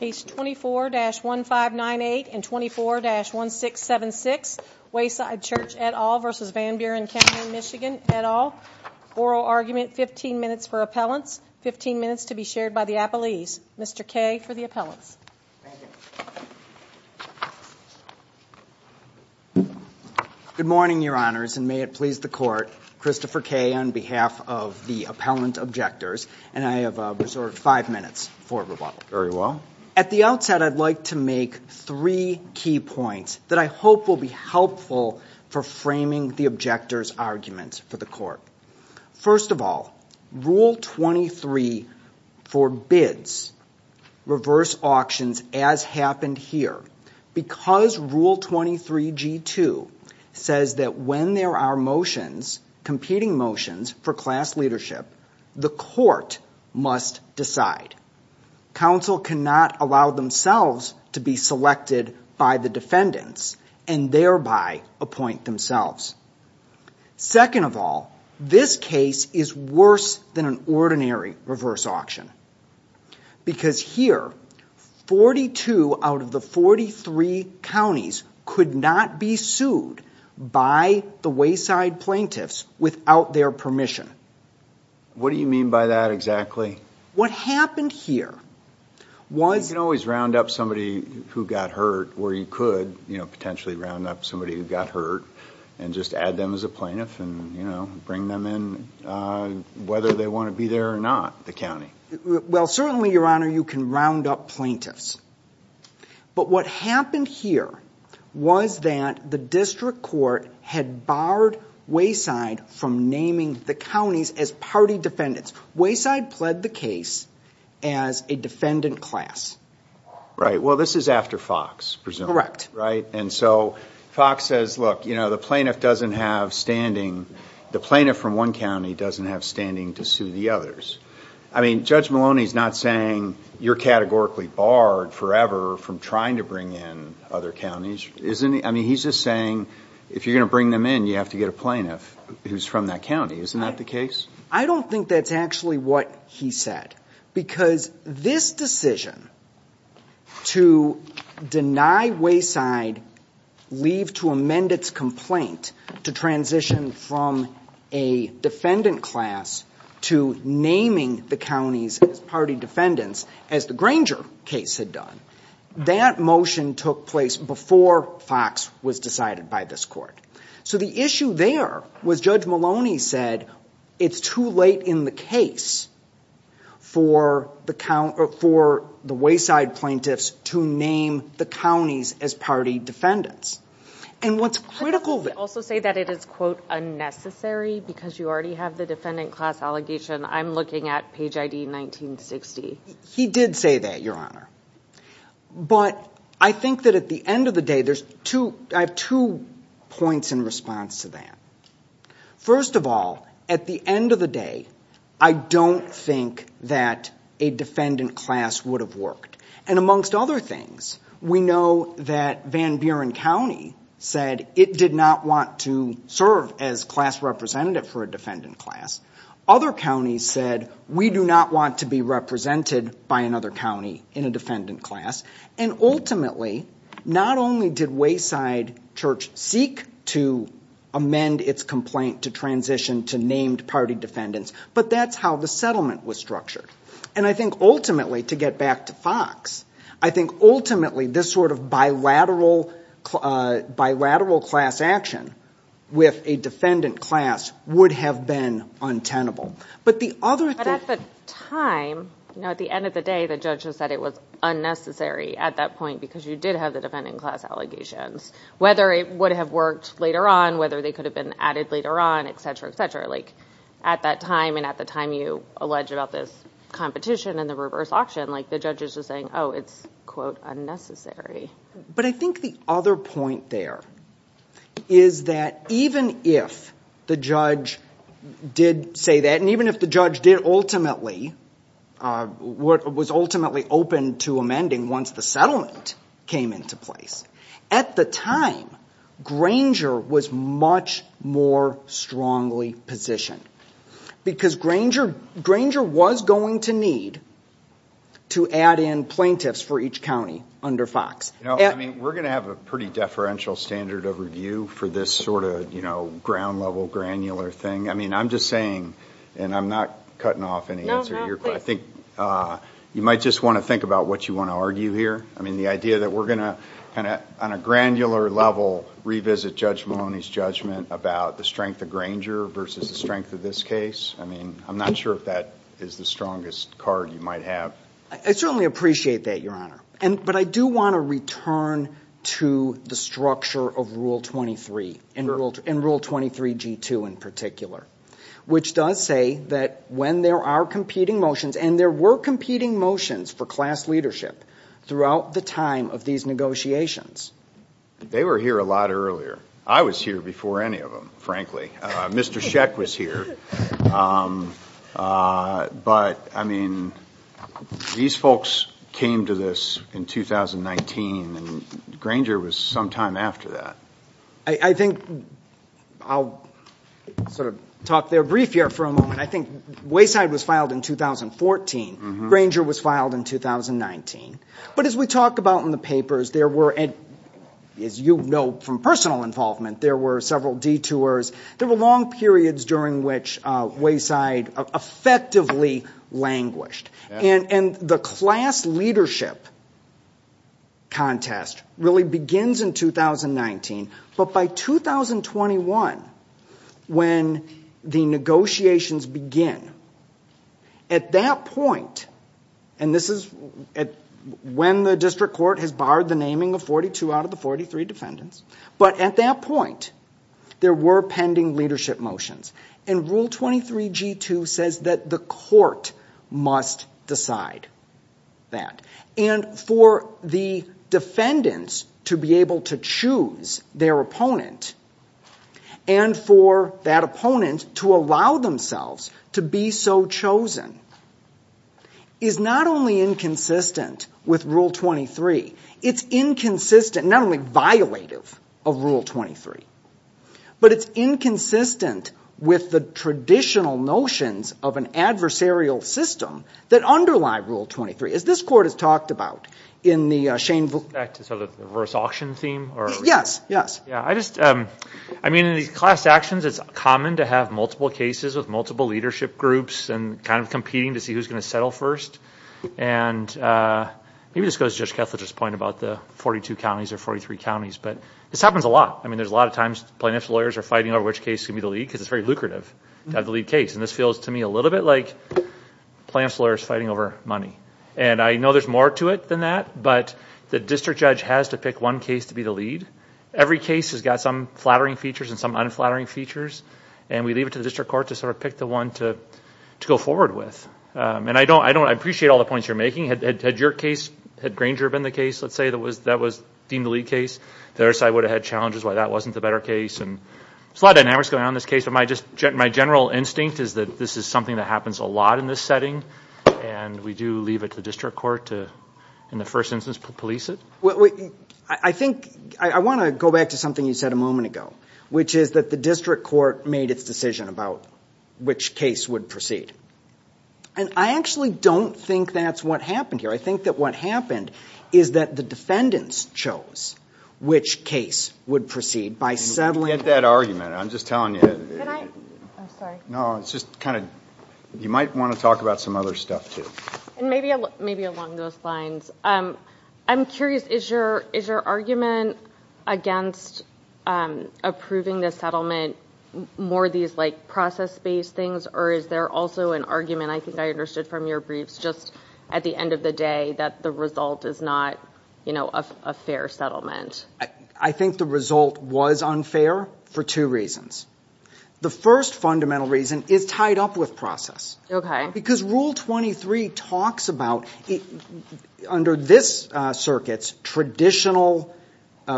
Page 24-1598 and 24-1676, Wayside Church et al. v. Van Buren County, MI et al. Oral argument, 15 minutes for appellants, 15 minutes to be shared by the appellees. Mr. Kaye for the appellants. Good morning, Your Honors, and may it please the Court, Christopher Kaye on behalf of the appellant objectors, and I have reserved five minutes for rebuttal. Very well. At the outset, I'd like to make three key points that I hope will be helpful for framing the objectors' arguments for the Court. First of all, Rule 23 forbids reverse auctions as happened here. Because Rule 23G2 says that when there are motions, competing motions, for class leadership, the Court must decide. Counsel cannot allow themselves to be selected by the defendants and thereby appoint themselves. Second of all, this case is worse than an ordinary reverse auction. Because here, 42 out of the 43 counties could not be sued by the Wayside plaintiffs without their permission. What do you mean by that exactly? What happened here was... You can always round up somebody who got hurt, or you could potentially round up somebody who got hurt and just add them as a plaintiff and bring them in whether they want to be there or not, the county. Well, certainly, Your Honor, you can round up plaintiffs. But what happened here was that the district court had barred Wayside from naming the counties as party defendants. Wayside pled the case as a defendant class. Right. Well, this is after Fox, presumably. Right. And so Fox says, look, you know, the plaintiff doesn't have standing. The plaintiff from one county doesn't have standing to sue the others. I mean, Judge Maloney is not saying you're categorically barred forever from trying to bring in other counties, isn't he? I mean, he's just saying if you're going to bring them in, you have to get a plaintiff who's from that county. Isn't that the case? I don't think that's actually what he said. Because this decision to deny Wayside leave to amend its complaint to transition from a defendant class to naming the counties as party defendants, as the Granger case had done, that motion took place before Fox was decided by this court. So the issue there was Judge Maloney said it's too late in the case for the count or for the Wayside plaintiffs to name the counties as party defendants. And what's critical. Also say that it is, quote, unnecessary because you already have the defendant class allegation. I'm looking at Page I.D. 1960. He did say that, Your Honor. But I think that at the end of the day, I have two points in response to that. First of all, at the end of the day, I don't think that a defendant class would have worked. And amongst other things, we know that Van Buren County said it did not want to serve as class representative for a defendant class. Other counties said we do not want to be represented by another county in a defendant class. And ultimately, not only did Wayside Church seek to amend its complaint to transition to named party defendants, but that's how the settlement was structured. And I think ultimately, to get back to Fox, I think ultimately this sort of bilateral class action with a defendant class would have been untenable. But at the time, at the end of the day, the judge said it was unnecessary at that point because you did have the defendant class allegations. Whether it would have worked later on, whether they could have been added later on, et cetera, et cetera. But at that time, and at the time you allege about this competition and the reverse auction, the judge is just saying, oh, it's, quote, unnecessary. But I think the other point there is that even if the judge did say that, and even if the judge was ultimately open to amending once the settlement came into place, at the time, Granger was much more strongly positioned. Because Granger was going to need to add in plaintiffs for each county under Fox. I mean, we're going to have a pretty deferential standard of review for this sort of ground level granular thing. I mean, I'm just saying, and I'm not cutting off any answer here, but I think you might just want to think about what you want to argue here. I mean, the idea that we're going to, on a granular level, revisit Judge Maloney's judgment about the strength of Granger versus the strength of this case. I mean, I'm not sure if that is the strongest card you might have. I certainly appreciate that, Your Honor. But I do want to return to the structure of Rule 23, and Rule 23G2 in particular, which does say that when there are competing motions, and there were competing motions for class leadership throughout the time of these negotiations. They were here a lot earlier. I was here before any of them, frankly. Mr. Sheck was here. But, I mean, these folks came to this in 2019, and Granger was some time after that. I think I'll sort of talk there briefly for a moment. I think Wayside was filed in 2014. Granger was filed in 2019. But as we talk about in the papers, there were, as you know from personal involvement, there were several detours. There were long periods during which Wayside effectively languished. And the class leadership contest really begins in 2019. But by 2021, when the negotiations begin, at that point, and this is when the district court has barred the naming of 42 out of the 43 defendants, but at that point, there were pending leadership motions. And Rule 23G2 says that the court must decide that. And for the defendants to be able to choose their opponent, and for that opponent to allow themselves to be so chosen, is not only inconsistent with Rule 23, it's inconsistent, not only violative of Rule 23, but it's inconsistent with the traditional notions of an adversarial system that underlie Rule 23. As this court has talked about in the Shane Vukovic- Back to sort of the reverse auction theme? Yes, yes. Yeah, I just, I mean, in these class actions, it's common to have multiple cases with multiple leadership groups and kind of competing to see who's going to settle first. And maybe this goes to Judge Kessler's point about the 42 counties or 43 counties, but this happens a lot. I mean, there's a lot of times plaintiffs' lawyers are fighting over which case can be the lead because it's very lucrative to have the lead case. And this feels to me a little bit like plaintiffs' lawyers fighting over money. And I know there's more to it than that, but the district judge has to pick one case to be the lead. Every case has got some flattering features and some unflattering features, and we leave it to the district court to sort of pick the one to go forward with. And I don't, I appreciate all the points you're making. Had your case, had Granger been the case, let's say, that was deemed the lead case, the other side would have had challenges why that wasn't the better case. And there's a lot of dynamics going on in this case, but my general instinct is that this is something that happens a lot in this setting. And we do leave it to the district court to, in the first instance, police it. I think, I want to go back to something you said a moment ago, which is that the district court made its decision about which case would proceed. And I actually don't think that's what happened here. I think that what happened is that the defendants chose which case would proceed by settling. We can get that argument. I'm just telling you. Can I? I'm sorry. No, it's just kind of, you might want to talk about some other stuff too. And maybe along those lines, I'm curious, is your argument against approving the settlement more these like process-based things, or is there also an argument, I think I understood from your briefs, just at the end of the day that the result is not a fair settlement? I think the result was unfair for two reasons. The first fundamental reason is tied up with process. Okay. Because Rule 23 talks about, under this circuit's traditional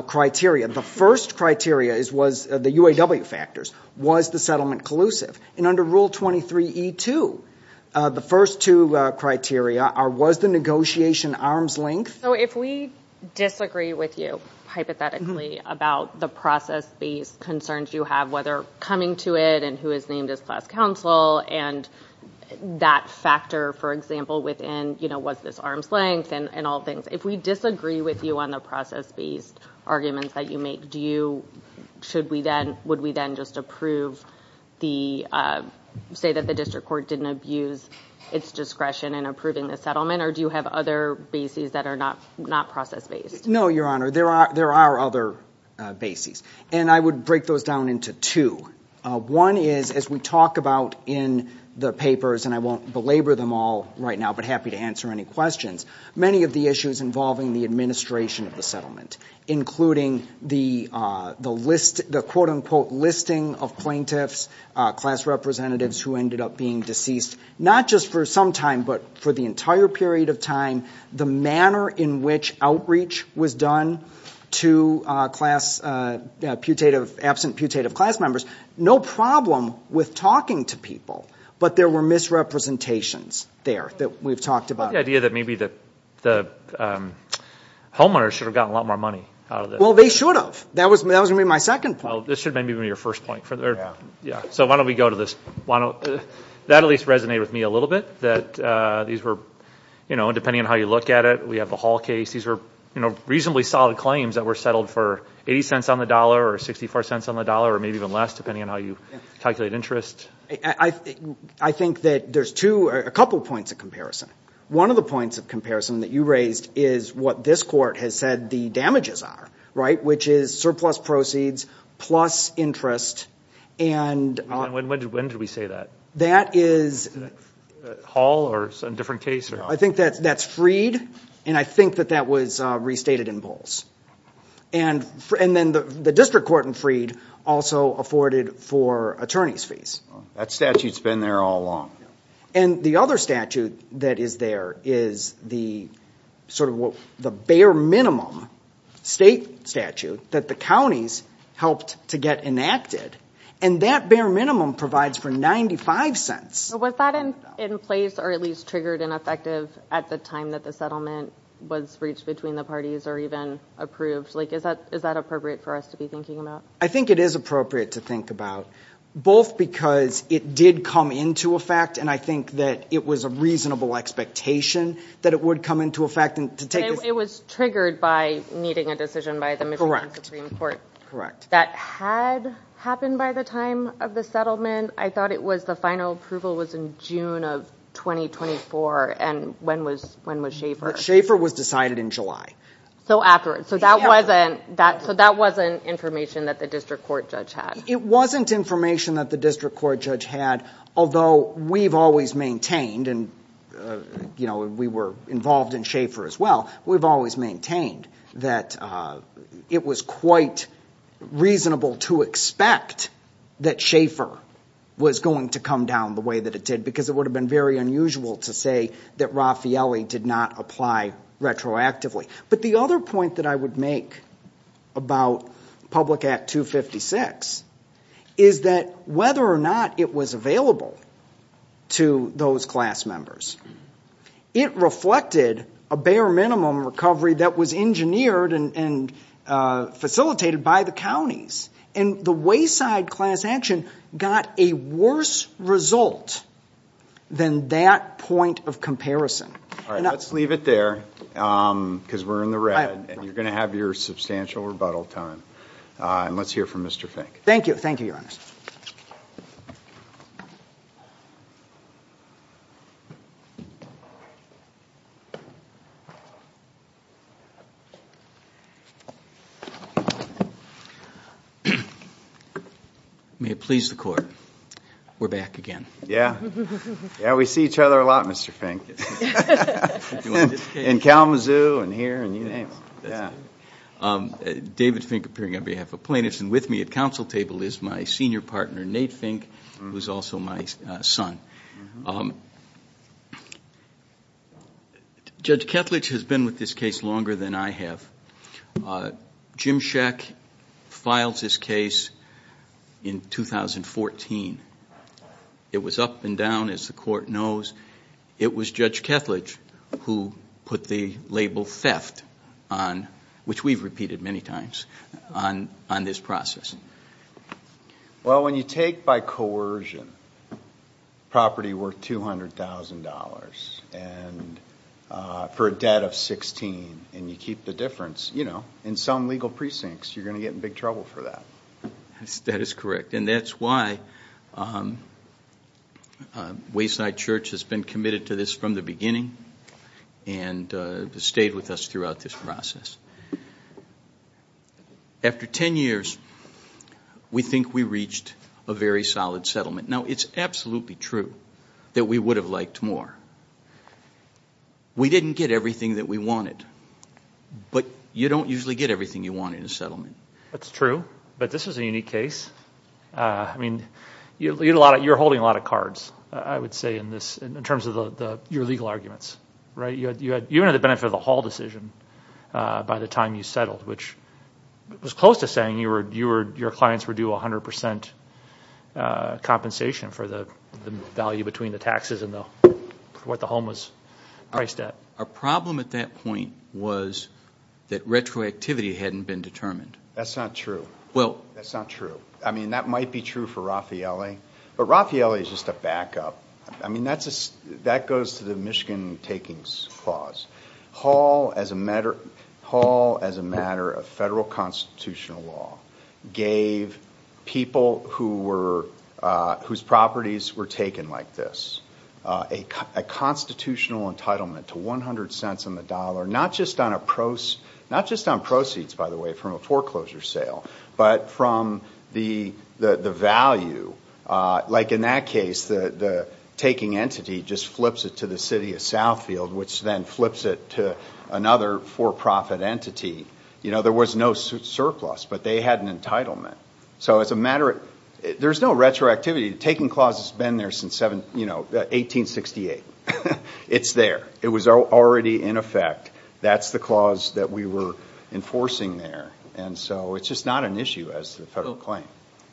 criteria, the first criteria was the UAW factors, was the settlement collusive. And under Rule 23E2, the first two criteria are, was the negotiation arm's length. So if we disagree with you, hypothetically, about the process-based concerns you have, whether coming to it and who is named as class counsel, and that factor, for example, within, you know, was this arm's length and all things, if we disagree with you on the process-based arguments that you make, do you, should we then, would we then just approve the, say that the district court didn't abuse its discretion in approving the settlement, or do you have other bases that are not process-based? No, Your Honor, there are other bases. And I would break those down into two. One is, as we talk about in the papers, and I won't belabor them all right now, but happy to answer any questions, many of the issues involving the administration of the settlement, including the list, the quote-unquote listing of plaintiffs, class representatives who ended up being deceased, not just for some time, but for the entire period of time, the manner in which outreach was done to class putative, absent putative class members. No problem with talking to people, but there were misrepresentations there that we've talked about. The idea that maybe the homeowners should have gotten a lot more money out of this. Well, they should have. That was going to be my second point. Well, this should maybe be your first point. So why don't we go to this? That at least resonated with me a little bit, that these were, you know, depending on how you look at it, we have the Hall case. These were, you know, reasonably solid claims that were settled for 80 cents on the dollar or 64 cents on the dollar, or maybe even less, depending on how you calculate interest. I think that there's two, a couple points of comparison. One of the points of comparison that you raised is what this court has said the damages are, right, which is surplus proceeds plus interest. When did we say that? That is... Hall or some different case? I think that's Freed, and I think that that was restated in Bowles. And then the district court in Freed also afforded for attorney's fees. That statute's been there all along. And the other statute that is there is the sort of the bare minimum state statute that the counties helped to get enacted, and that bare minimum provides for 95 cents. Was that in place or at least triggered and effective at the time that the settlement was reached between the parties or even approved? Like, is that appropriate for us to be thinking about? I think it is appropriate to think about, both because it did come into effect, and I think that it was a reasonable expectation that it would come into effect. It was triggered by needing a decision by the Michigan Supreme Court. Correct. That had happened by the time of the settlement. I thought it was the final approval was in June of 2024, and when was Schaefer? Schaefer was decided in July. So that wasn't information that the district court judge had. It wasn't information that the district court judge had, although we've always maintained, and we were involved in Schaefer as well, we've always maintained that it was quite reasonable to expect that Schaefer was going to come down the way that it did, because it would have been very unusual to say that Raffaelli did not apply retroactively. But the other point that I would make about Public Act 256 is that whether or not it was available to those class members, it reflected a bare minimum recovery that was engineered and facilitated by the counties. And the wayside class action got a worse result than that point of comparison. Let's leave it there, because we're in the red, and you're going to have your substantial rebuttal time. And let's hear from Mr. Fink. Thank you. Thank you, Your Honor. May it please the Court, we're back again. Yeah, we see each other a lot, Mr. Fink. In Kalamazoo, and here, and you name it. David Fink, appearing on behalf of plaintiffs, and with me at counsel table is my senior partner, Nate Fink, who is also my son. Judge Ketledge has been with this case longer than I have. Jim Schach filed this case in 2014. It was up and down, as the Court knows. It was Judge Ketledge who put the label theft on, which we've repeated many times, on this process. Well, when you take by coercion property worth $200,000 for a debt of $16,000, and you keep the difference, you know, in some legal precincts, you're going to get in big trouble for that. That is correct. And that's why Wayside Church has been committed to this from the beginning and stayed with us throughout this process. After 10 years, we think we reached a very solid settlement. Now, it's absolutely true that we would have liked more. We didn't get everything that we wanted, but you don't usually get everything you want in a settlement. That's true, but this is a unique case. I mean, you're holding a lot of cards, I would say, in terms of your legal arguments, right? You had the benefit of the whole decision by the time you settled, which was close to saying your clients were due 100% compensation for the value between the taxes and what the home was priced at. Our problem at that point was that retroactivity hadn't been determined. That's not true. That's not true. I mean, that might be true for Raffaele, but Raffaele is just a backup. I mean, that goes to the Michigan takings clause. Hall, as a matter of federal constitutional law, gave people whose properties were taken like this a constitutional entitlement to 100 cents on the dollar, not just on proceeds, by the way, from a foreclosure sale, but from the value. Like in that case, the taking entity just flips it to the city of Southfield, which then flips it to another for-profit entity. There was no surplus, but they had an entitlement. So there's no retroactivity. The taking clause has been there since 1868. It's there. It was already in effect. That's the clause that we were enforcing there. And so it's just not an issue as a federal claim.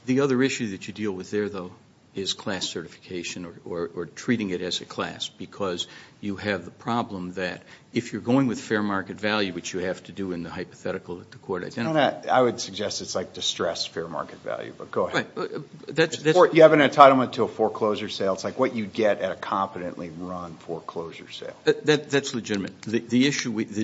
The other issue that you deal with there, though, is class certification or treating it as a class because you have the problem that if you're going with fair market value, which you have to do in the hypothetical that the court identified. I would suggest it's like distressed fair market value, but go ahead. You have an entitlement to a foreclosure sale. It's like what you'd get at a competently run foreclosure sale. That's legitimate. The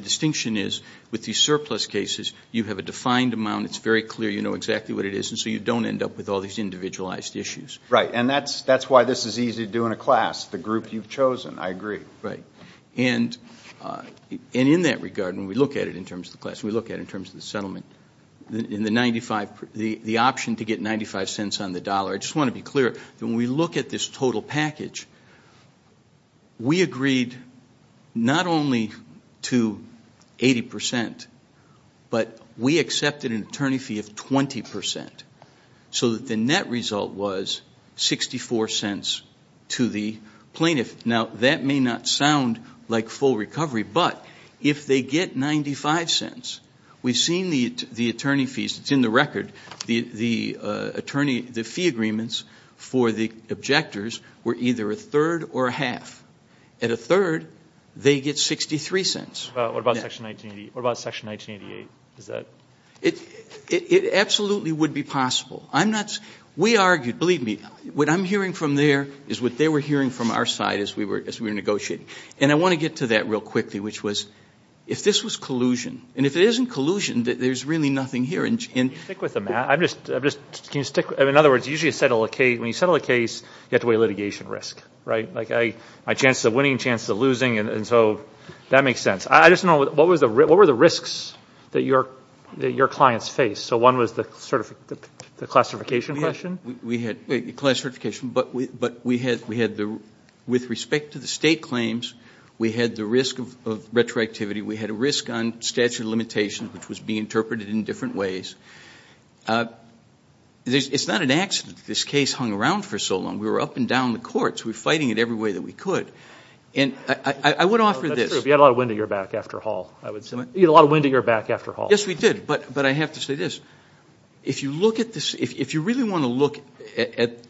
distinction is with these surplus cases, you have a defined amount. It's very clear. You know exactly what it is, and so you don't end up with all these individualized issues. Right. And that's why this is easy to do in a class, the group you've chosen. I agree. Right. And in that regard, when we look at it in terms of the class, when we look at it in terms of the settlement, the option to get 95 cents on the dollar, I just want to be clear, when we look at this total package, we agreed not only to 80%, but we accepted an attorney fee of 20% so that the net result was 64 cents to the plaintiff. Now, that may not sound like full recovery, but if they get 95 cents, we've seen the attorney fees. It's in the record. The attorney fee agreements for the objectors were either a third or a half. At a third, they get 63 cents. What about Section 1988? It absolutely would be possible. We argued, believe me, what I'm hearing from there is what they were hearing from our side as we were negotiating. And I want to get to that real quickly, which was if this was collusion, and if it isn't collusion, there's really nothing here. Can you stick with them, Matt? In other words, when you settle a case, you have to weigh litigation risk, right? My chances of winning, chances of losing, and so that makes sense. I just don't know, what were the risks that your clients faced? So one was the classification question? We had classification, but with respect to the state claims, we had the risk of retroactivity. We had a risk on statute of limitations, which was being interpreted in different ways. It's not an accident that this case hung around for so long. We were up and down the courts. We were fighting it every way that we could. And I would offer this. That's true. If you had a lot of wind at your back after Hall, I would say. You had a lot of wind at your back after Hall. Yes, we did. But I have to say this. If you look at this, if you really want to look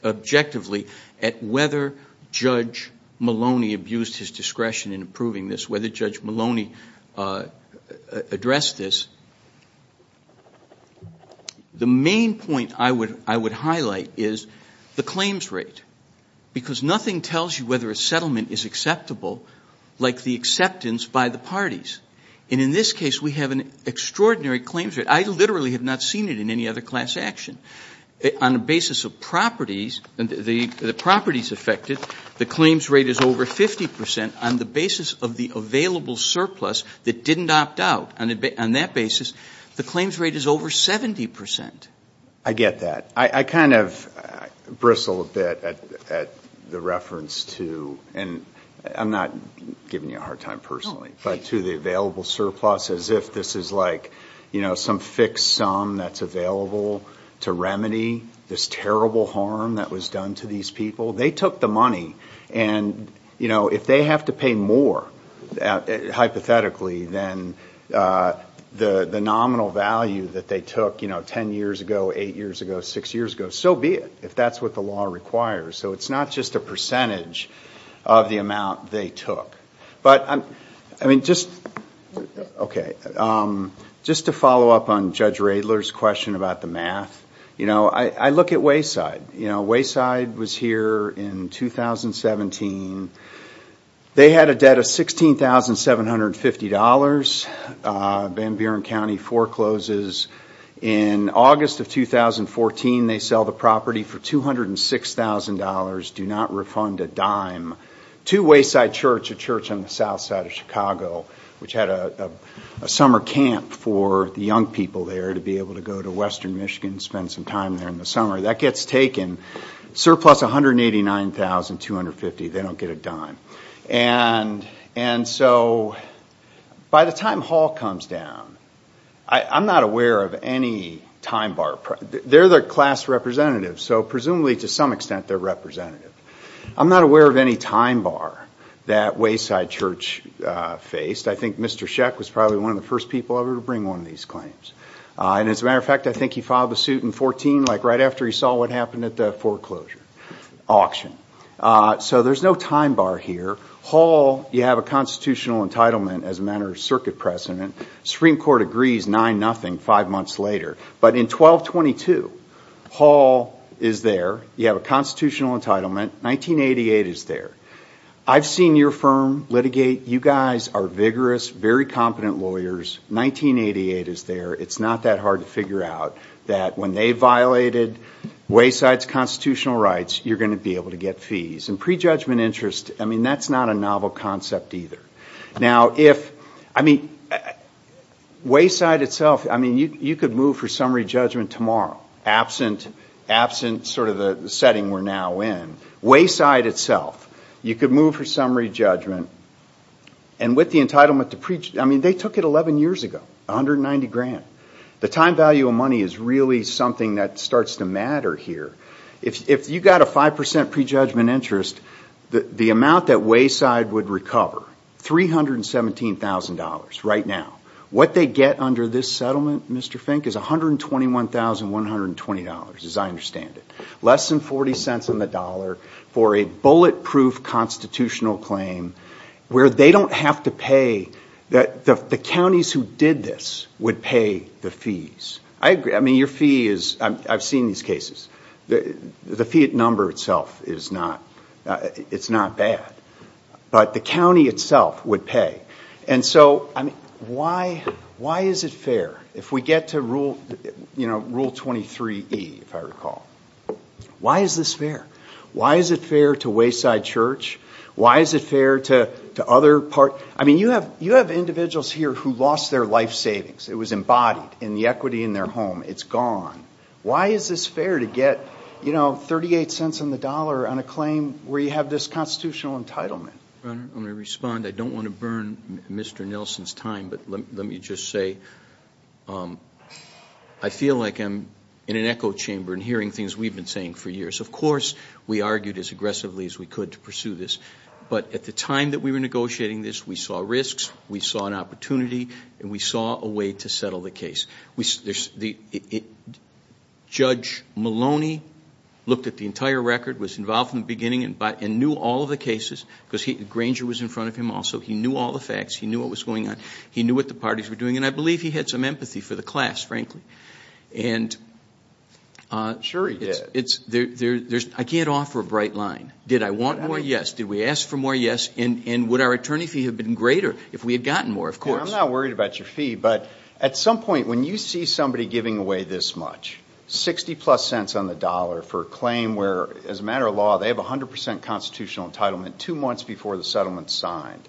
objectively at whether Judge Maloney abused his discretion in approving this, whether Judge Maloney addressed this, the main point I would highlight is the claims rate. Because nothing tells you whether a settlement is acceptable like the acceptance by the parties. And in this case, we have an extraordinary claims rate. I literally have not seen it in any other class action. On the basis of properties, the properties affected, the claims rate is over 50%. On the basis of the available surplus that didn't opt out, on that basis, the claims rate is over 70%. I get that. I kind of bristle a bit at the reference to, and I'm not giving you a hard time personally, but to the available surplus as if this is like some fixed sum that's available to remedy this terrible harm that was done to these people. They took the money, and if they have to pay more, hypothetically, than the nominal value that they took 10 years ago, 8 years ago, 6 years ago, so be it, if that's what the law requires. So it's not just a percentage of the amount they took. Just to follow up on Judge Radler's question about the math, I look at Wayside. Wayside was here in 2017. They had a debt of $16,750. Van Buren County forecloses. In August of 2014, they sell the property for $206,000, do not refund a dime, to Wayside Church, a church on the south side of Chicago, which had a summer camp for the young people there to be able to go to western Michigan and spend some time there in the summer. That gets taken. Surplus $189,250. They don't get a dime. By the time Hall comes down, I'm not aware of any time bar. They're their class representative, so presumably, to some extent, they're representative. I'm not aware of any time bar that Wayside Church faced. I think Mr. Sheck was probably one of the first people ever to bring one of these claims. As a matter of fact, I think he filed the suit in 2014, like right after he saw what happened at the foreclosure auction. So there's no time bar here. Hall, you have a constitutional entitlement as a matter of circuit precedent. Supreme Court agrees 9-0 five months later. But in 1222, Hall is there. You have a constitutional entitlement. 1988 is there. I've seen your firm litigate. You guys are vigorous, very competent lawyers. 1988 is there. It's not that hard to figure out that when they violated Wayside's constitutional rights, you're going to be able to get fees. And prejudgment interest, I mean, that's not a novel concept either. Now, if, I mean, Wayside itself, I mean, you could move for summary judgment tomorrow, absent sort of the setting we're now in. Wayside itself, you could move for summary judgment. And with the entitlement to prejudgment, I mean, they took it 11 years ago, 190 grand. The time value of money is really something that starts to matter here. If you got a 5% prejudgment interest, the amount that Wayside would recover, $317,000 right now. What they get under this settlement, Mr. Fink, is $121,120, as I understand it. Less than 40 cents on the dollar for a bulletproof constitutional claim where they don't have to pay. The counties who did this would pay the fees. I agree. I mean, your fee is, I've seen these cases. The fee number itself is not, it's not bad. But the county itself would pay. And so, I mean, why is it fair if we get to rule, you know, rule 23E, if I recall. Why is this fair? Why is it fair to Wayside Church? Why is it fair to other parties? I mean, you have individuals here who lost their life savings. It was embodied in the equity in their home. It's gone. Why is this fair to get, you know, 38 cents on the dollar on a claim where you have this constitutional entitlement? Your Honor, let me respond. I don't want to burn Mr. Nelson's time, but let me just say, I feel like I'm in an echo chamber and hearing things we've been saying for years. Of course, we argued as aggressively as we could to pursue this. But at the time that we were negotiating this, we saw risks. We saw an opportunity. And we saw a way to settle the case. Judge Maloney looked at the entire record, was involved from the beginning, and knew all of the cases because Granger was in front of him also. He knew all the facts. He knew what was going on. He knew what the parties were doing. And I believe he had some empathy for the class, frankly. Sure, he did. I can't offer a bright line. Did I want more? Yes. Did we ask for more? Yes. And would our attorney fee have been greater if we had gotten more? I'm not worried about your fee. But at some point, when you see somebody giving away this much, 60-plus cents on the dollar for a claim where, as a matter of law, they have 100% constitutional entitlement two months before the settlement is signed.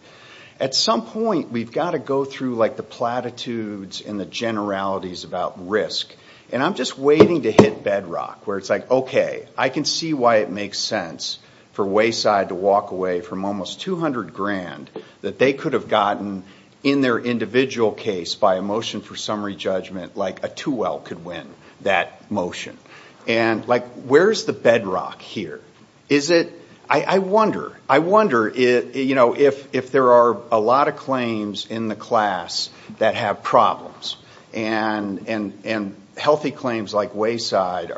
At some point, we've got to go through like the platitudes and the generalities about risk. And I'm just waiting to hit bedrock where it's like, okay, I can see why it makes sense for Wayside to walk away from almost 200 grand that they could have gotten in their individual case by a motion for summary judgment like a 2L could win that motion. And, like, where's the bedrock here? I wonder. I wonder if there are a lot of claims in the class that have problems. And healthy claims like Wayside,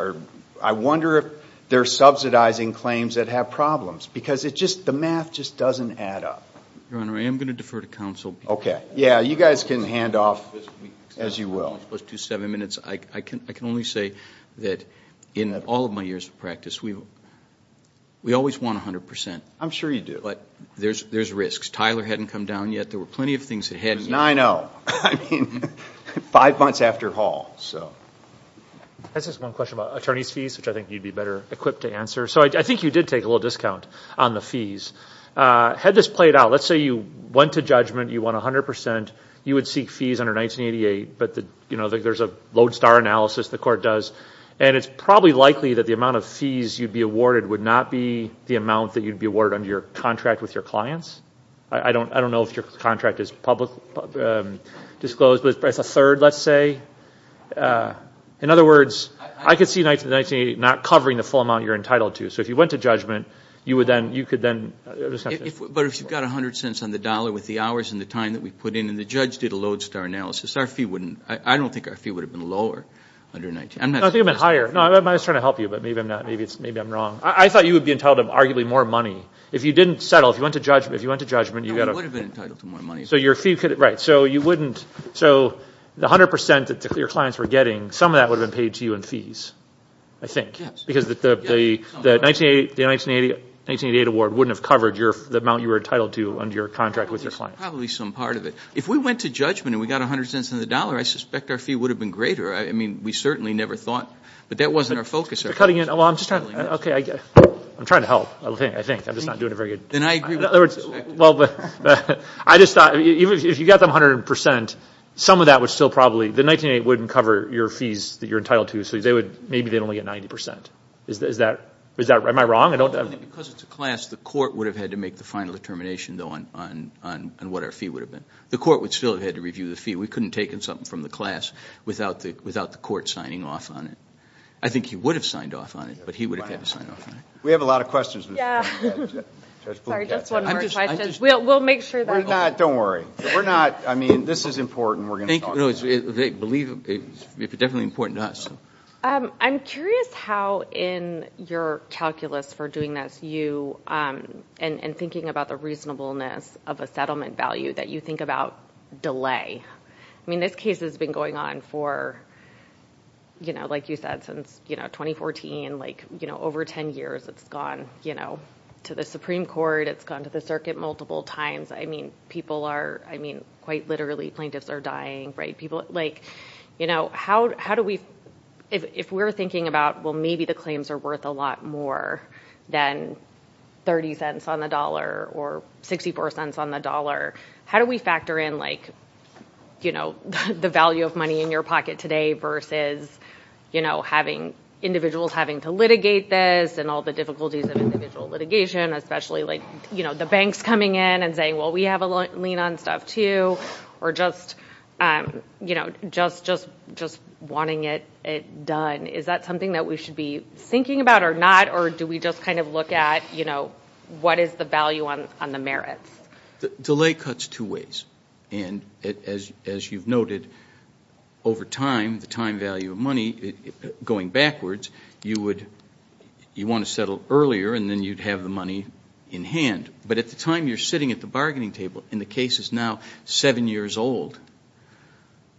I wonder if they're subsidizing claims that have problems. Because the math just doesn't add up. Your Honor, I am going to defer to counsel. Okay. Yeah, you guys can hand off as you will. I can only say that in all of my years of practice, we always won 100%. I'm sure you do. There's risks. Tyler hadn't come down yet. There were plenty of things that hadn't. It was 9-0. I mean, five months after Hall, so. I just have one question about attorney's fees, which I think you'd be better equipped to answer. So I think you did take a little discount on the fees. Had this played out, let's say you went to judgment, you won 100%. You would seek fees under 1988, but there's a lodestar analysis the court does, and it's probably likely that the amount of fees you'd be awarded would not be the amount that you'd be awarded under your contract with your clients. I don't know if your contract is publicly disclosed, but it's a third, let's say. In other words, I could see 1980 not covering the full amount you're entitled to. So if you went to judgment, you could then. But if you've got 100 cents on the dollar with the hours and the time that we put in, and the judge did a lodestar analysis, I don't think our fee would have been lower. No, I think it would have been higher. I was trying to help you, but maybe I'm wrong. I thought you would be entitled to arguably more money. If you didn't settle, if you went to judgment. No, we would have been entitled to more money. Right. So the 100% that your clients were getting, some of that would have been paid to you in fees, I think. Yes. Because the 1988 award wouldn't have covered the amount you were entitled to under your contract with your clients. Probably some part of it. If we went to judgment and we got 100 cents on the dollar, I suspect our fee would have been greater. I mean, we certainly never thought. But that wasn't our focus. I'm trying to help. I think. I'm just not doing a very good job. I just thought if you got them 100%, some of that would still probably, the 1988 wouldn't cover your fees that you're entitled to, so maybe they'd only get 90%. Am I wrong? Because it's a class, the court would have had to make the final determination on what our fee would have been. The court would still have had to review the fee. We couldn't have taken something from the class without the court signing off on it. I think he would have signed off on it, but he would have had to sign off on it. We have a lot of questions. Sorry, just one more question. We'll make sure that. Don't worry. We're not, I mean, this is important. It's definitely important to us. I'm curious how in your calculus for doing this, you, and thinking about the reasonableness of a settlement value, that you think about delay. I mean, this case has been going on for, you know, like you said, since 2014, like, you know, over 10 years. It's gone, you know, to the Supreme Court. It's gone to the circuit multiple times. I mean, people are, I mean, quite literally, plaintiffs are dying, right? People, like, you know, how do we, if we're thinking about, well, maybe the claims are worth a lot more than 30 cents on the dollar or 64 cents on the dollar, how do we factor in, like, you know, the value of money in your pocket today versus, you know, having individuals having to litigate this and all the difficulties of individual litigation, especially, like, you know, the banks coming in and saying, well, we have a lien on stuff, too, or just, you know, just wanting it done. Is that something that we should be thinking about or not, or do we just kind of look at, you know, what is the value on the merits? Delay cuts two ways, and as you've noted, over time, the time value of money going backwards, you would, you want to settle earlier, and then you'd have the money in hand. But at the time you're sitting at the bargaining table, and the case is now seven years old,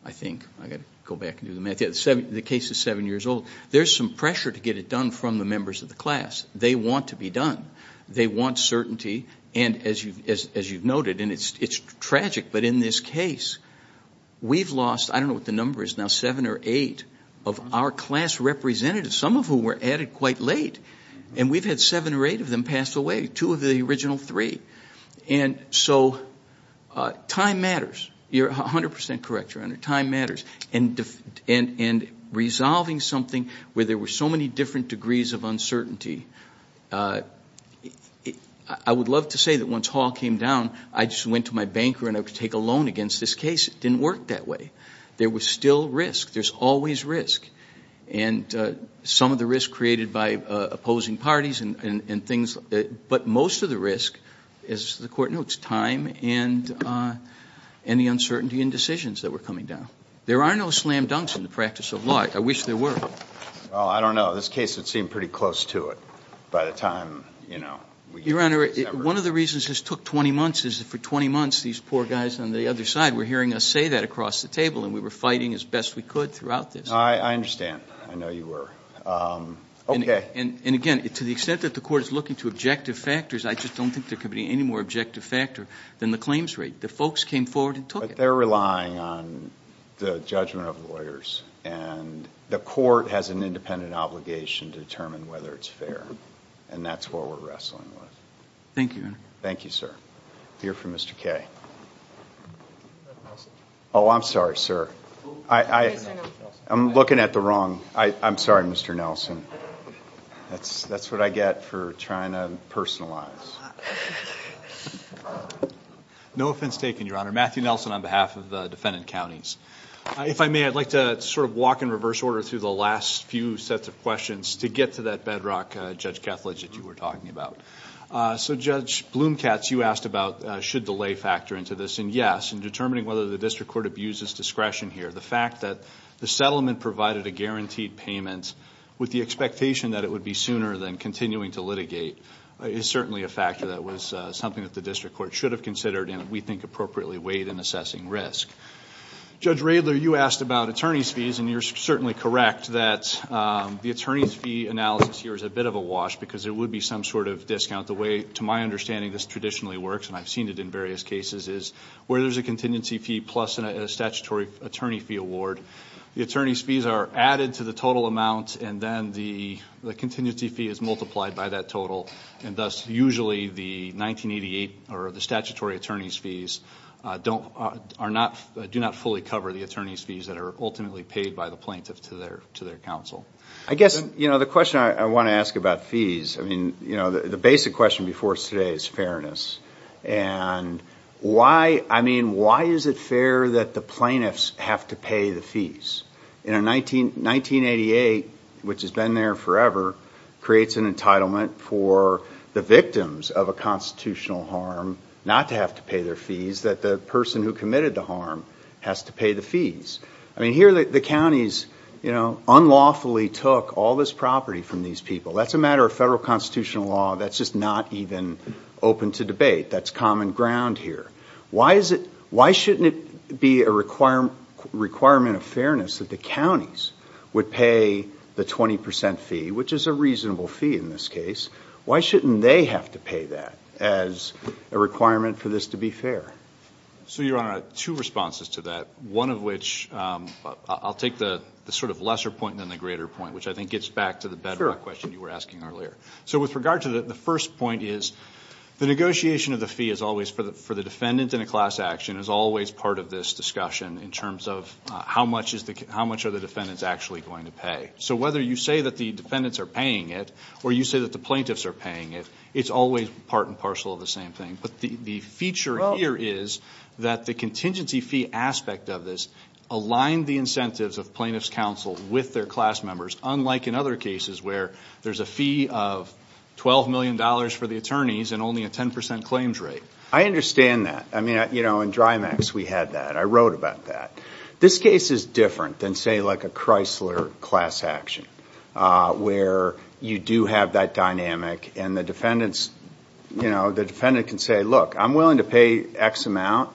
I think. I've got to go back and do the math. The case is seven years old. There's some pressure to get it done from the members of the class. They want to be done. They want certainty, and as you've noted, and it's tragic, but in this case, we've lost, I don't know what the number is now, seven or eight of our class representatives, some of whom were added quite late, and we've had seven or eight of them pass away, two of the original three, and so time matters. You're 100% correct, Your Honor. Time matters, and resolving something where there were so many different degrees of uncertainty, I would love to say that once Hall came down, I just went to my banker and I would take a loan against this case. It didn't work that way. There was still risk. There's always risk, and some of the risk created by opposing parties and things, but most of the risk, as the Court notes, time and the uncertainty in decisions that were coming down. There are no slam dunks in the practice of law. I wish there were. Well, I don't know. This case, it seemed pretty close to it by the time, you know, we got to December. Your Honor, one of the reasons this took 20 months is that for 20 months, these poor guys on the other side were hearing us say that across the table, and we were fighting as best we could throughout this. I understand. I know you were. Okay. And, again, to the extent that the Court is looking to objective factors, I just don't think there could be any more objective factor than the claims rate. The folks came forward and took it. But they're relying on the judgment of lawyers, and the Court has an independent obligation to determine whether it's fair, and that's what we're wrestling with. Thank you, Your Honor. Thank you, sir. We'll hear from Mr. Kaye. Oh, I'm sorry, sir. I'm looking at the wrong. I'm sorry, Mr. Nelson. That's what I get for trying to personalize. No offense taken, Your Honor. Matthew Nelson on behalf of the defendant counties. If I may, I'd like to sort of walk in reverse order through the last few sets of questions to get to that bedrock, Judge Kethledge, that you were talking about. So, Judge Blumkatz, you asked about should delay factor into this, and yes. In determining whether the district court abuses discretion here, the fact that the settlement provided a guaranteed payment with the expectation that it would be sooner than continuing to litigate is certainly a factor that was something that the district court should have considered and we think appropriately weighed in assessing risk. Judge Radler, you asked about attorney's fees, and you're certainly correct that the attorney's fee analysis here is a bit of a wash because it would be some sort of discount. The way, to my understanding, this traditionally works, and I've seen it in various cases, is where there's a contingency fee plus a statutory attorney fee award, the attorney's fees are added to the total amount and then the contingency fee is multiplied by that total, and thus usually the 1988 or the statutory attorney's fees do not fully cover the attorney's fees that are ultimately paid by the plaintiff to their counsel. I guess the question I want to ask about fees, the basic question before us today is fairness, and why is it fair that the plaintiffs have to pay the fees? 1988, which has been there forever, creates an entitlement for the victims of a constitutional harm not to have to pay their fees, that the person who committed the harm has to pay the fees. I mean, here the counties unlawfully took all this property from these people. That's a matter of federal constitutional law. That's just not even open to debate. That's common ground here. Why shouldn't it be a requirement of fairness that the counties would pay the 20% fee, which is a reasonable fee in this case? Why shouldn't they have to pay that as a requirement for this to be fair? So, Your Honor, I have two responses to that, one of which I'll take the sort of lesser point than the greater point, which I think gets back to the bedrock question you were asking earlier. So with regard to that, the first point is the negotiation of the fee is always, for the defendant in a class action, is always part of this discussion in terms of how much are the defendants actually going to pay. So whether you say that the defendants are paying it or you say that the plaintiffs are paying it, it's always part and parcel of the same thing. But the feature here is that the contingency fee aspect of this aligned the incentives of plaintiff's counsel with their class members, unlike in other cases where there's a fee of $12 million for the attorneys and only a 10% claims rate. I understand that. I mean, you know, in DRIMACS we had that. I wrote about that. This case is different than, say, like a Chrysler class action where you do have that dynamic and the defendant can say, look, I'm willing to pay X amount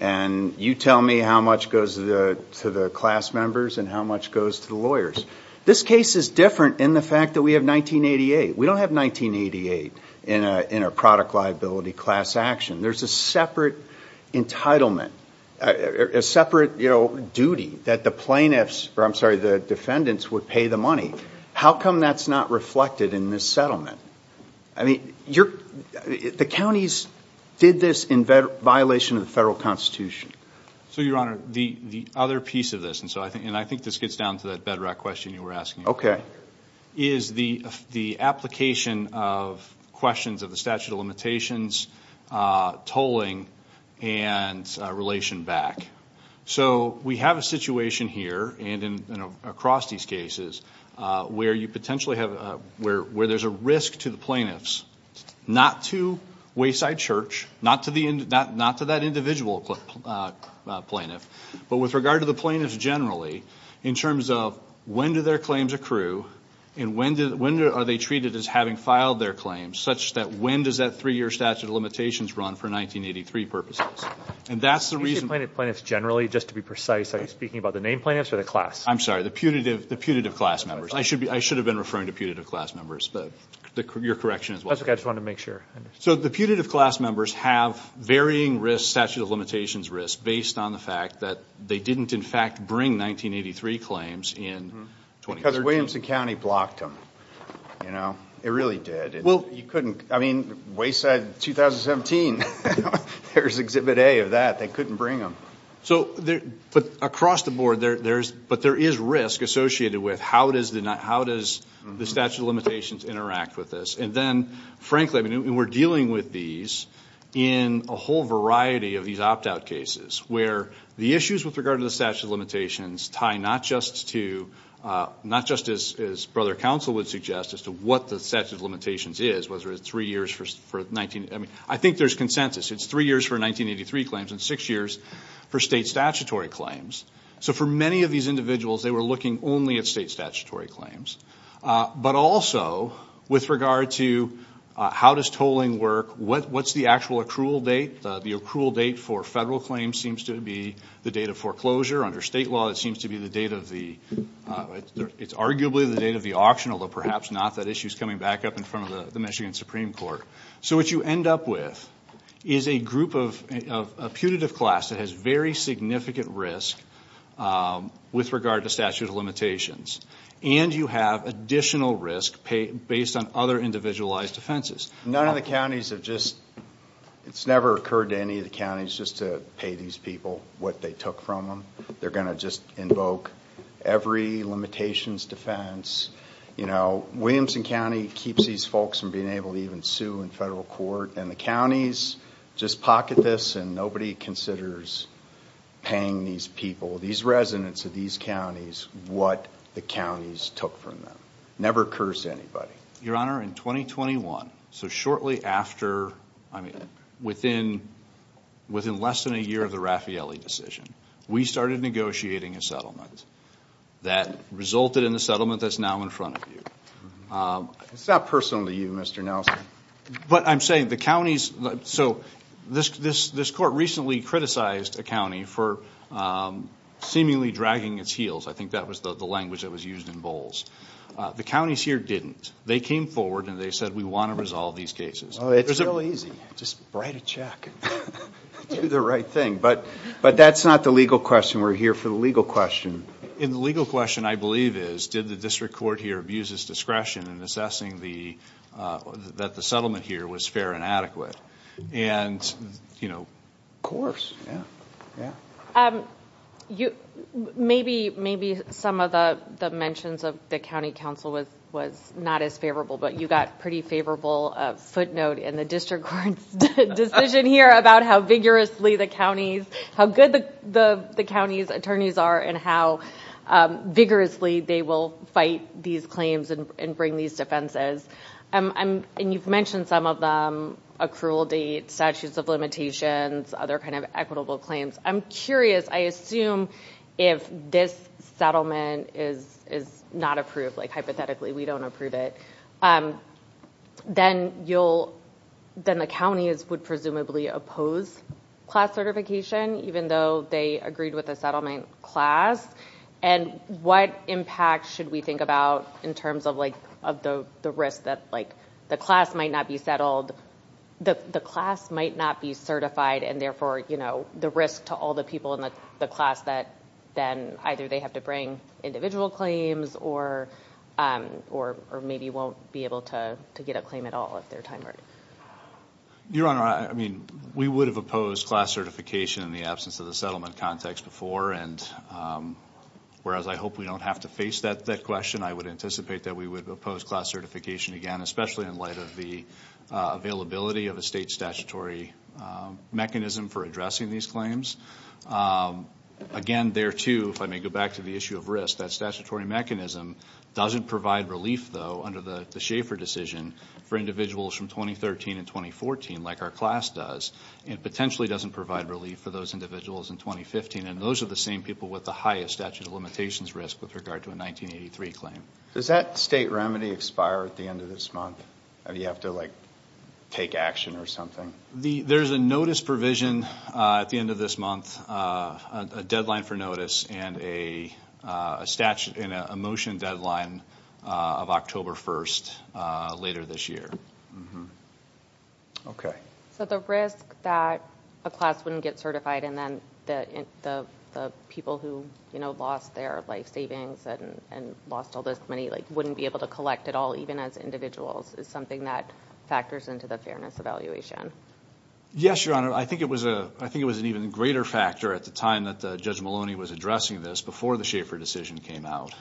and you tell me how much goes to the class members and how much goes to the lawyers. This case is different in the fact that we have 1988. We don't have 1988 in a product liability class action. There's a separate entitlement, a separate duty that the defendants would pay the money. How come that's not reflected in this settlement? I mean, the counties did this in violation of the federal constitution. So, Your Honor, the other piece of this, and I think this gets down to that bedrock question you were asking, is the application of questions of the statute of limitations, tolling, and relation back. So we have a situation here and across these cases where there's a risk to the plaintiffs, not to Wayside Church, not to that individual plaintiff, but with regard to the plaintiffs generally in terms of when do their claims accrue and when are they treated as having filed their claims, such that when does that three-year statute of limitations run for 1983 purposes. Do you say plaintiffs generally, just to be precise? Are you speaking about the named plaintiffs or the class? I'm sorry, the putative class members. I should have been referring to putative class members, but your correction is wrong. That's okay. I just wanted to make sure. So the putative class members have varying risk, statute of limitations risk, based on the fact that they didn't, in fact, bring 1983 claims in 2013. Because Williamson County blocked them. It really did. Well, you couldn't. I mean, Wayside 2017, there's Exhibit A of that. They couldn't bring them. But across the board, but there is risk associated with how does the statute of limitations interact with this. And then, frankly, we're dealing with these in a whole variety of these opt-out cases where the issues with regard to the statute of limitations tie not just to, not just as Brother Counsel would suggest, as to what the statute of limitations is, whether it's three years for, I mean, I think there's consensus. It's three years for 1983 claims and six years for state statutory claims. So for many of these individuals, they were looking only at state statutory claims. But also, with regard to how does tolling work, what's the actual accrual date? The accrual date for federal claims seems to be the date of foreclosure. Under state law, it seems to be the date of the, it's arguably the date of the auction, although perhaps not. That issue is coming back up in front of the Michigan Supreme Court. So what you end up with is a group of, a putative class that has very significant risk with regard to statute of limitations. And you have additional risk based on other individualized offenses. None of the counties have just, it's never occurred to any of the counties just to pay these people what they took from them. They're going to just invoke every limitations defense. You know, Williamson County keeps these folks from being able to even sue in federal court. And the counties just pocket this and nobody considers paying these people, these residents of these counties, what the counties took from them. Never curse anybody. Your Honor, in 2021, so shortly after, I mean, within less than a year of the Raffaelli decision, we started negotiating a settlement that resulted in the settlement that's now in front of you. It's not personal to you, Mr. Nelson. But I'm saying the counties, so this court recently criticized a county for seemingly dragging its heels. I think that was the language that was used in Bowles. The counties here didn't. They came forward and they said, we want to resolve these cases. It's real easy. Just write a check. Do the right thing. But that's not the legal question. We're here for the legal question. And the legal question, I believe, is did the district court here abuse its discretion in assessing that the settlement here was fair and adequate? And, you know. Of course. Yeah. Maybe some of the mentions of the county council was not as favorable. But you got pretty favorable footnote in the district court's decision here about how vigorously the counties, how good the county's attorneys are and how vigorously they will fight these claims and bring these defenses. And you've mentioned some of them, accrual date, statutes of limitations, other kind of equitable claims. I'm curious. I assume if this settlement is not approved, like hypothetically we don't approve it, then the counties would presumably oppose class certification even though they agreed with the settlement class. And what impact should we think about in terms of the risk that the class might not be settled, the class might not be certified, and therefore, you know, the risk to all the people in the class that then either they have to bring individual claims or maybe won't be able to get a claim at all at their time. Your Honor, I mean, we would have opposed class certification in the absence of the settlement context before. And whereas I hope we don't have to face that question, I would anticipate that we would oppose class certification again, especially in light of the availability of a state statutory mechanism for addressing these claims. Again, there, too, if I may go back to the issue of risk, that statutory mechanism doesn't provide relief, though, under the Schaefer decision for individuals from 2013 and 2014 like our class does. It potentially doesn't provide relief for those individuals in 2015. And those are the same people with the highest statute of limitations risk with regard to a 1983 claim. Does that state remedy expire at the end of this month? Do you have to, like, take action or something? There's a notice provision at the end of this month, a deadline for notice, and a motion deadline of October 1st later this year. Okay. So the risk that a class wouldn't get certified and then the people who, you know, lost their life savings and lost all this money, like, wouldn't be able to collect at all even as individuals is something that factors into the fairness evaluation. Yes, Your Honor. I think it was an even greater factor at the time that Judge Maloney was addressing this before the Schaefer decision came out,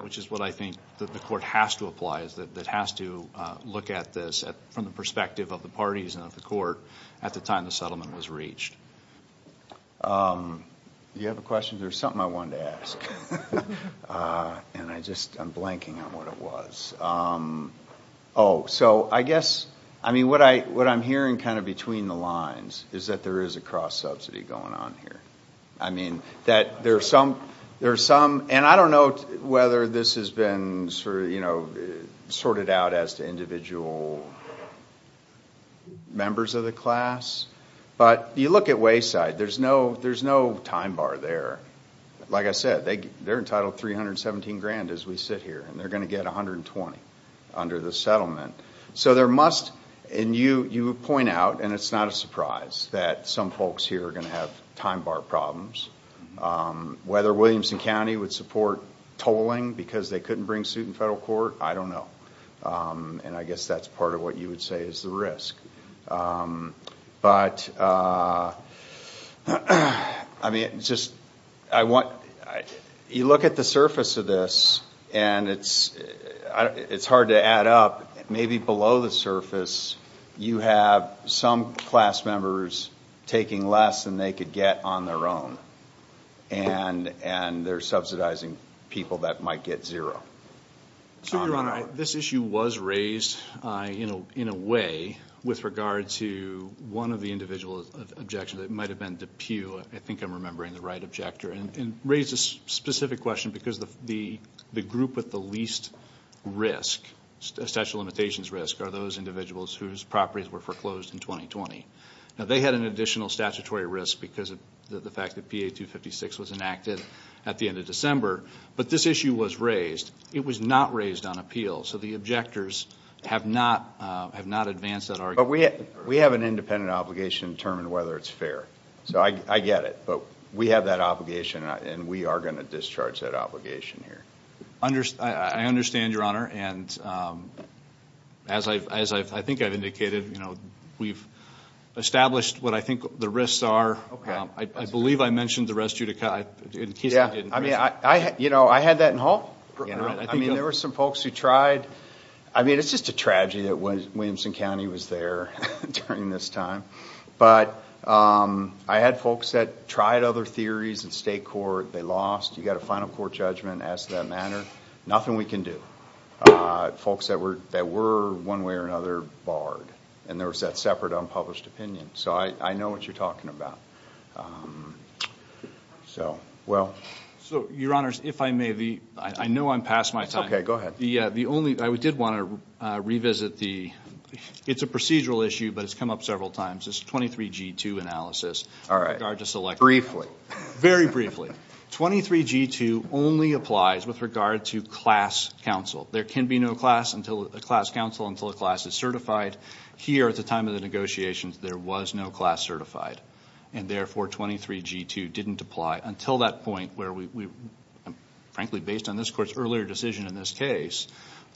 which is what I think the court has to apply, that has to look at this from the perspective of the parties and of the court at the time the settlement was reached. Do you have a question? There's something I wanted to ask, and I just am blanking on what it was. Oh, so I guess, I mean, what I'm hearing kind of between the lines is that there is a cross-subsidy going on here. I mean, that there are some, and I don't know whether this has been, you know, sorted out as to individual members of the class, but you look at Wayside. There's no time bar there. Like I said, they're entitled $317,000 as we sit here, and they're going to get $120,000 under the settlement. So there must, and you point out, and it's not a surprise, that some folks here are going to have time bar problems. Whether Williamson County would support tolling because they couldn't bring suit in federal court, I don't know. And I guess that's part of what you would say is the risk. But, I mean, just, I want, you look at the surface of this, and it's hard to add up. Maybe below the surface, you have some class members taking less than they could get on their own, and they're subsidizing people that might get zero. So, Your Honor, this issue was raised, you know, in a way, with regard to one of the individual objections. It might have been DePue, I think I'm remembering the right objector, and raised a specific question because the group with the least risk, statute of limitations risk, are those individuals whose properties were foreclosed in 2020. Now, they had an additional statutory risk because of the fact that PA-256 was enacted at the end of December. But this issue was raised. It was not raised on appeal, so the objectors have not advanced that argument. But we have an independent obligation to determine whether it's fair. So, I get it. But we have that obligation, and we are going to discharge that obligation here. I understand, Your Honor. And as I think I've indicated, you know, we've established what I think the risks are. I believe I mentioned the res judicata. I mean, you know, I had that in Hull. I mean, there were some folks who tried. I mean, it's just a tragedy that Williamson County was there during this time. But I had folks that tried other theories in state court. They lost. You got a final court judgment as to that matter. Nothing we can do. Folks that were one way or another barred. And there was that separate unpublished opinion. So, I know what you're talking about. So, well. So, Your Honors, if I may, I know I'm past my time. Okay, go ahead. The only, I did want to revisit the, it's a procedural issue, but it's come up several times. It's a 23G2 analysis. All right. Briefly. Very briefly. 23G2 only applies with regard to class counsel. There can be no class counsel until a class is certified. Here, at the time of the negotiations, there was no class certified. And therefore, 23G2 didn't apply until that point where we, frankly, based on this court's earlier decision in this case,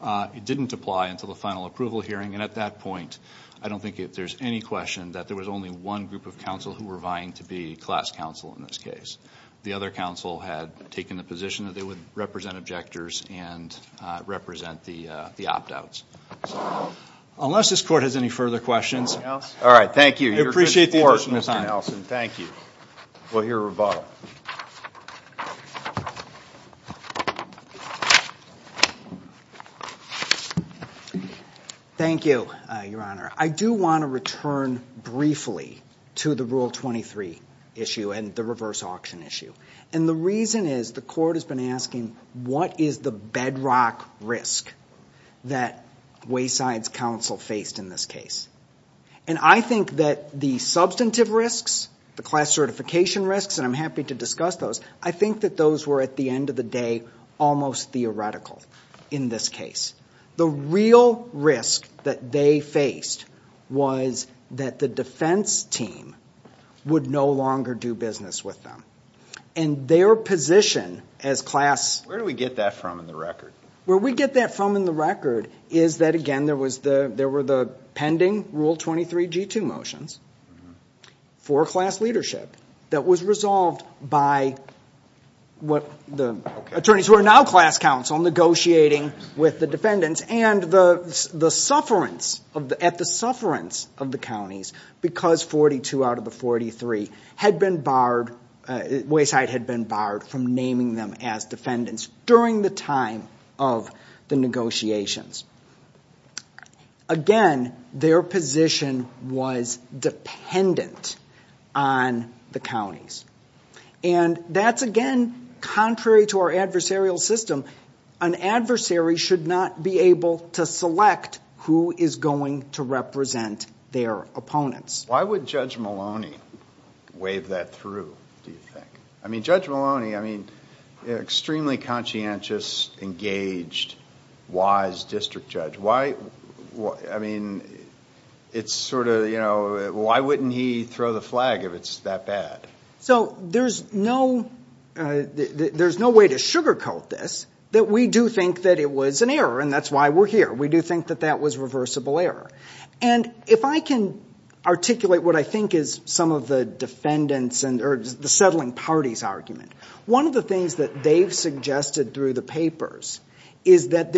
it didn't apply until the final approval hearing. And at that point, I don't think there's any question that there was only one group of counsel who were vying to be class counsel in this case. The other counsel had taken the position that they would represent objectors and represent the opt-outs. Unless this court has any further questions. All right. Thank you. We appreciate the additional time. Thank you. We'll hear rebuttal. Thank you, Your Honor. I do want to return briefly to the Rule 23 issue and the reverse auction issue. And the reason is the court has been asking, what is the bedrock risk that Wayside's counsel faced in this case? And I think that the substantive risks, the class certification risks, and I'm happy to discuss those, I think that those were, at the end of the day, almost theoretical in this case. The real risk that they faced was that the defense team would no longer do business with them. And their position as class... Where do we get that from in the record? Where we get that from in the record is that, again, there were the pending Rule 23G2 motions for class leadership that was resolved by the attorneys who are now class counsel negotiating with the defendants and at the sufferance of the counties because 42 out of the 43, Wayside had been barred from naming them as defendants during the time of the negotiations. Again, their position was dependent on the counties. And that's, again, contrary to our adversarial system. An adversary should not be able to select who is going to represent their opponents. Why would Judge Maloney wave that through, do you think? I mean, Judge Maloney, I mean, extremely conscientious, engaged, wise district judge. Why, I mean, it's sort of, you know, why wouldn't he throw the flag if it's that bad? So there's no way to sugarcoat this, that we do think that it was an error, and that's why we're here. We do think that that was reversible error. And if I can articulate what I think is some of the defendants or the settling parties' argument, one of the things that they've suggested through the papers is that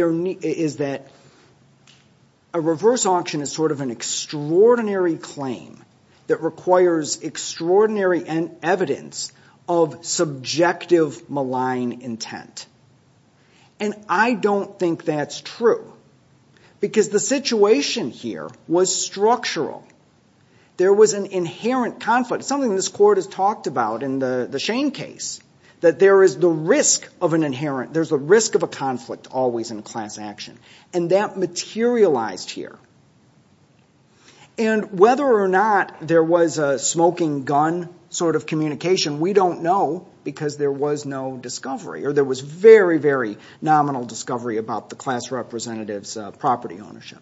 a reverse auction is sort of an extraordinary claim that requires extraordinary evidence of subjective malign intent. And I don't think that's true, because the situation here was structural. There was an inherent conflict, something this court has talked about in the Shane case, that there is the risk of an inherent, there's a risk of a conflict always in a class action. And that materialized here. And whether or not there was a smoking gun sort of communication, we don't know, because there was no discovery, or there was very, very nominal discovery about the class representative's property ownership.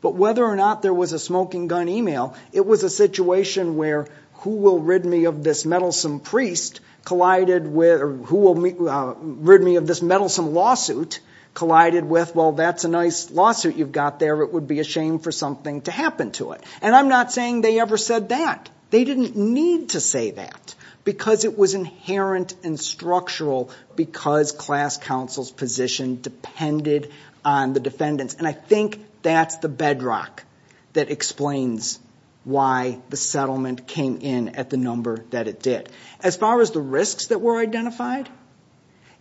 But whether or not there was a smoking gun email, it was a situation where who will rid me of this meddlesome priest collided with, or who will rid me of this meddlesome lawsuit collided with, well, that's a nice lawsuit you've got there, it would be a shame for something to happen to it. And I'm not saying they ever said that. They didn't need to say that, because it was inherent and structural, because class counsel's position depended on the defendant's. And I think that's the bedrock that explains why the settlement came in at the number that it did. As far as the risks that were identified,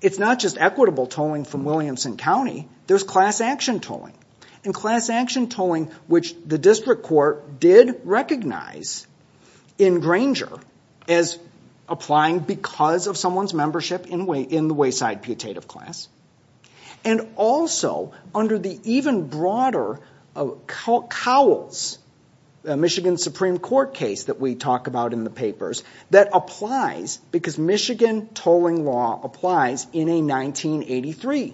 it's not just equitable tolling from Williamson County, there's class action tolling. And class action tolling, which the district court did recognize in Granger as applying because of someone's membership in the wayside putative class, and also under the even broader Cowles, Michigan Supreme Court case that we talk about in the papers, that applies because Michigan tolling law applies in a 1983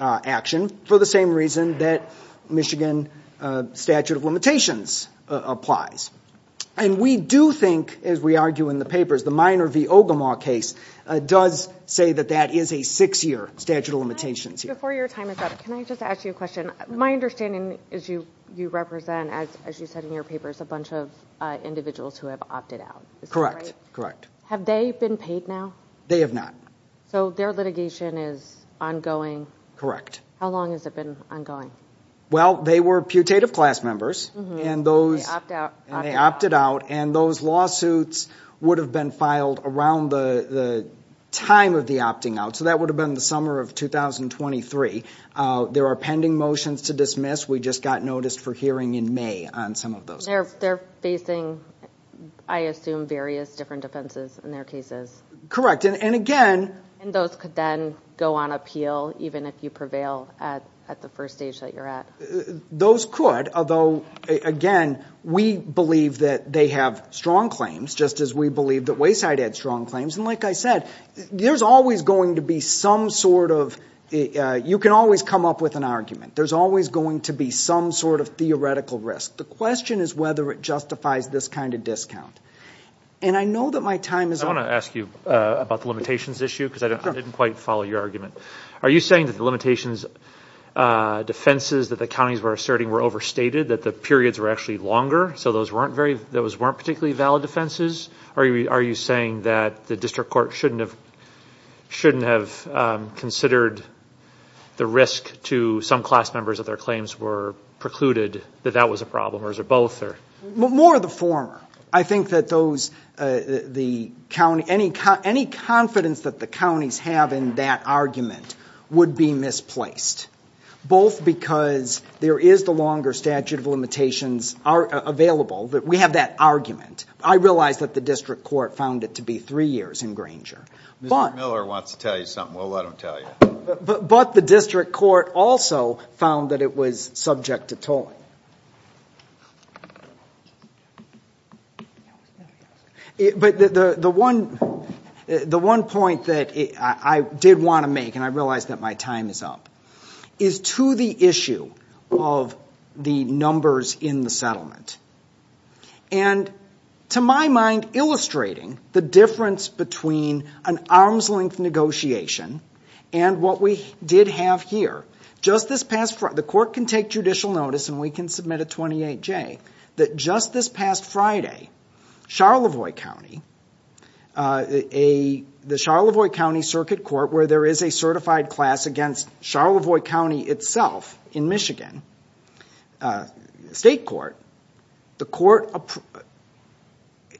action, for the same reason that Michigan statute of limitations applies. And we do think, as we argue in the papers, the Minor v. Ogemaw case does say that that is a six-year statute of limitations. Before your time is up, can I just ask you a question? My understanding is you represent, as you said in your papers, a bunch of individuals who have opted out. Correct, correct. Have they been paid now? They have not. So their litigation is ongoing? How long has it been ongoing? Well, they were putative class members, and they opted out, and those lawsuits would have been filed around the time of the opting out, so that would have been the summer of 2023. There are pending motions to dismiss. We just got noticed for hearing in May on some of those. They're facing, I assume, various different offenses in their cases. Correct. And, again ---- And those could then go on appeal, even if you prevail at the first stage that you're at. Those could, although, again, we believe that they have strong claims, just as we believe that Wayside had strong claims. And like I said, there's always going to be some sort of ---- you can always come up with an argument. There's always going to be some sort of theoretical risk. The question is whether it justifies this kind of discount. And I know that my time is up. I want to ask you about the limitations issue because I didn't quite follow your argument. Are you saying that the limitations defenses that the counties were asserting were overstated, that the periods were actually longer, so those weren't particularly valid defenses? Are you saying that the district court shouldn't have considered the risk to some class members that their claims were precluded, that that was a problem, or is it both? More the former. I think that any confidence that the counties have in that argument would be misplaced, both because there is the longer statute of limitations available, that we have that argument. I realize that the district court found it to be three years in Granger. Mr. Miller wants to tell you something. We'll let him tell you. But the district court also found that it was subject to tolling. But the one point that I did want to make, and I realize that my time is up, is to the issue of the numbers in the settlement. And to my mind, illustrating the difference between an arm's-length negotiation and what we did have here, just this past Friday, the court can take judicial notice and we can submit a 28-J, that just this past Friday, Charlevoix County, the Charlevoix County Circuit Court, where there is a certified class against Charlevoix County itself in Michigan, state court, the court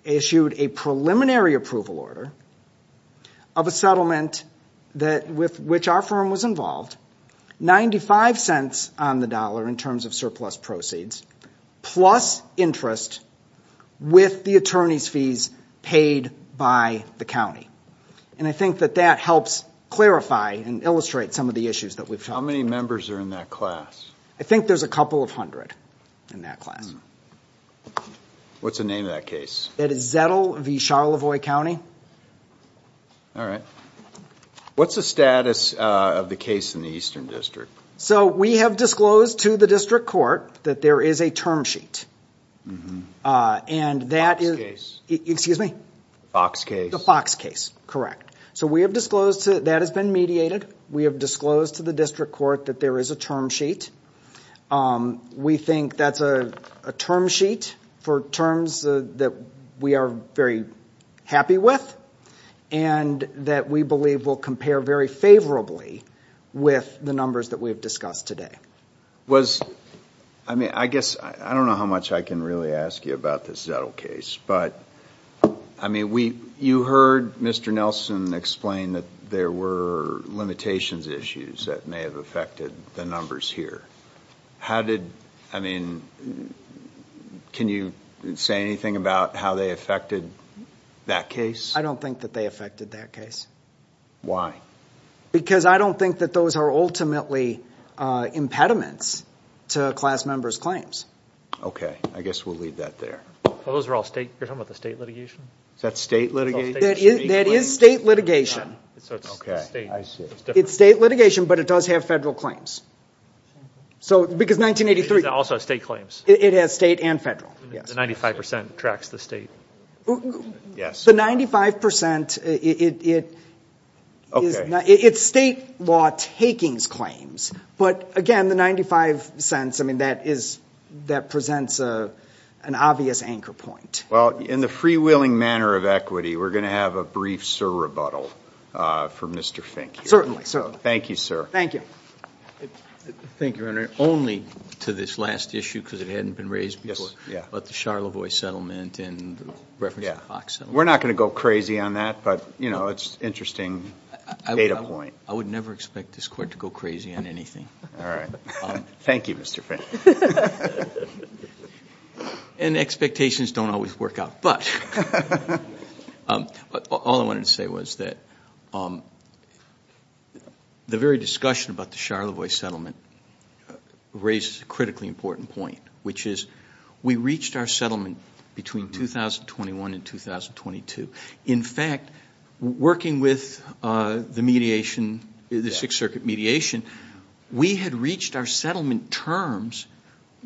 issued a preliminary approval order of a settlement with which our firm was involved, $0.95 on the dollar in terms of surplus proceeds, plus interest with the attorney's fees paid by the county. And I think that that helps clarify and illustrate some of the issues that we've talked about. How many members are in that class? I think there's a couple of hundred in that class. What's the name of that case? That is Zettel v. Charlevoix County. All right. What's the status of the case in the Eastern District? So we have disclosed to the district court that there is a term sheet. And that is- Excuse me? Fox case. The Fox case, correct. So we have disclosed that has been mediated. We have disclosed to the district court that there is a term sheet. We think that's a term sheet for terms that we are very happy with, and that we believe will compare very favorably with the numbers that we have discussed today. I guess I don't know how much I can really ask you about this Zettel case, but you heard Mr. Nelson explain that there were limitations issues that may have affected the numbers here. How did- I mean, can you say anything about how they affected that case? I don't think that they affected that case. Why? Because I don't think that those are ultimately impediments to class members' claims. Okay. I guess we'll leave that there. Well, those are all state- You're talking about the state litigation? Is that state litigation? That is state litigation. Okay. I see. It's state litigation, but it does have federal claims. Because 1983- It also has state claims. It has state and federal, yes. The 95 percent tracks the state. Yes. The 95 percent, it's state law takings claims. But, again, the 95 cents, I mean, that presents an obvious anchor point. Well, in the freewheeling manner of equity, we're going to have a brief sir rebuttal from Mr. Fink here. Thank you, sir. Thank you. Thank you, Your Honor. Only to this last issue, because it hadn't been raised before, about the Charlevoix settlement and the reference to the Fox settlement. We're not going to go crazy on that, but, you know, it's an interesting data point. I would never expect this court to go crazy on anything. All right. Thank you, Mr. Fink. And expectations don't always work out. But all I wanted to say was that the very discussion about the Charlevoix settlement raised a critically important point, which is we reached our settlement between 2021 and 2022. In fact, working with the mediation, the Sixth Circuit mediation, we had reached our settlement terms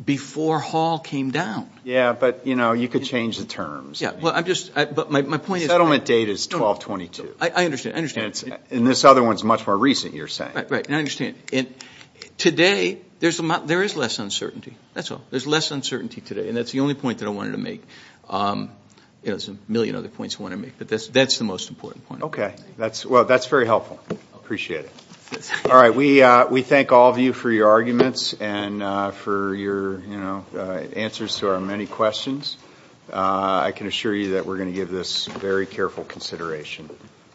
before Hall came down. Yeah, but, you know, you could change the terms. Yeah, well, I'm just – but my point is – Settlement date is 1222. I understand. I understand. And this other one is much more recent, you're saying. Right, right. And I understand. And today, there is less uncertainty. That's all. There's less uncertainty today. And that's the only point that I wanted to make. There's a million other points I want to make, but that's the most important point. Okay. Well, that's very helpful. I appreciate it. All right. We thank all of you for your arguments and for your answers to our many questions. I can assure you that we're going to give this very careful consideration.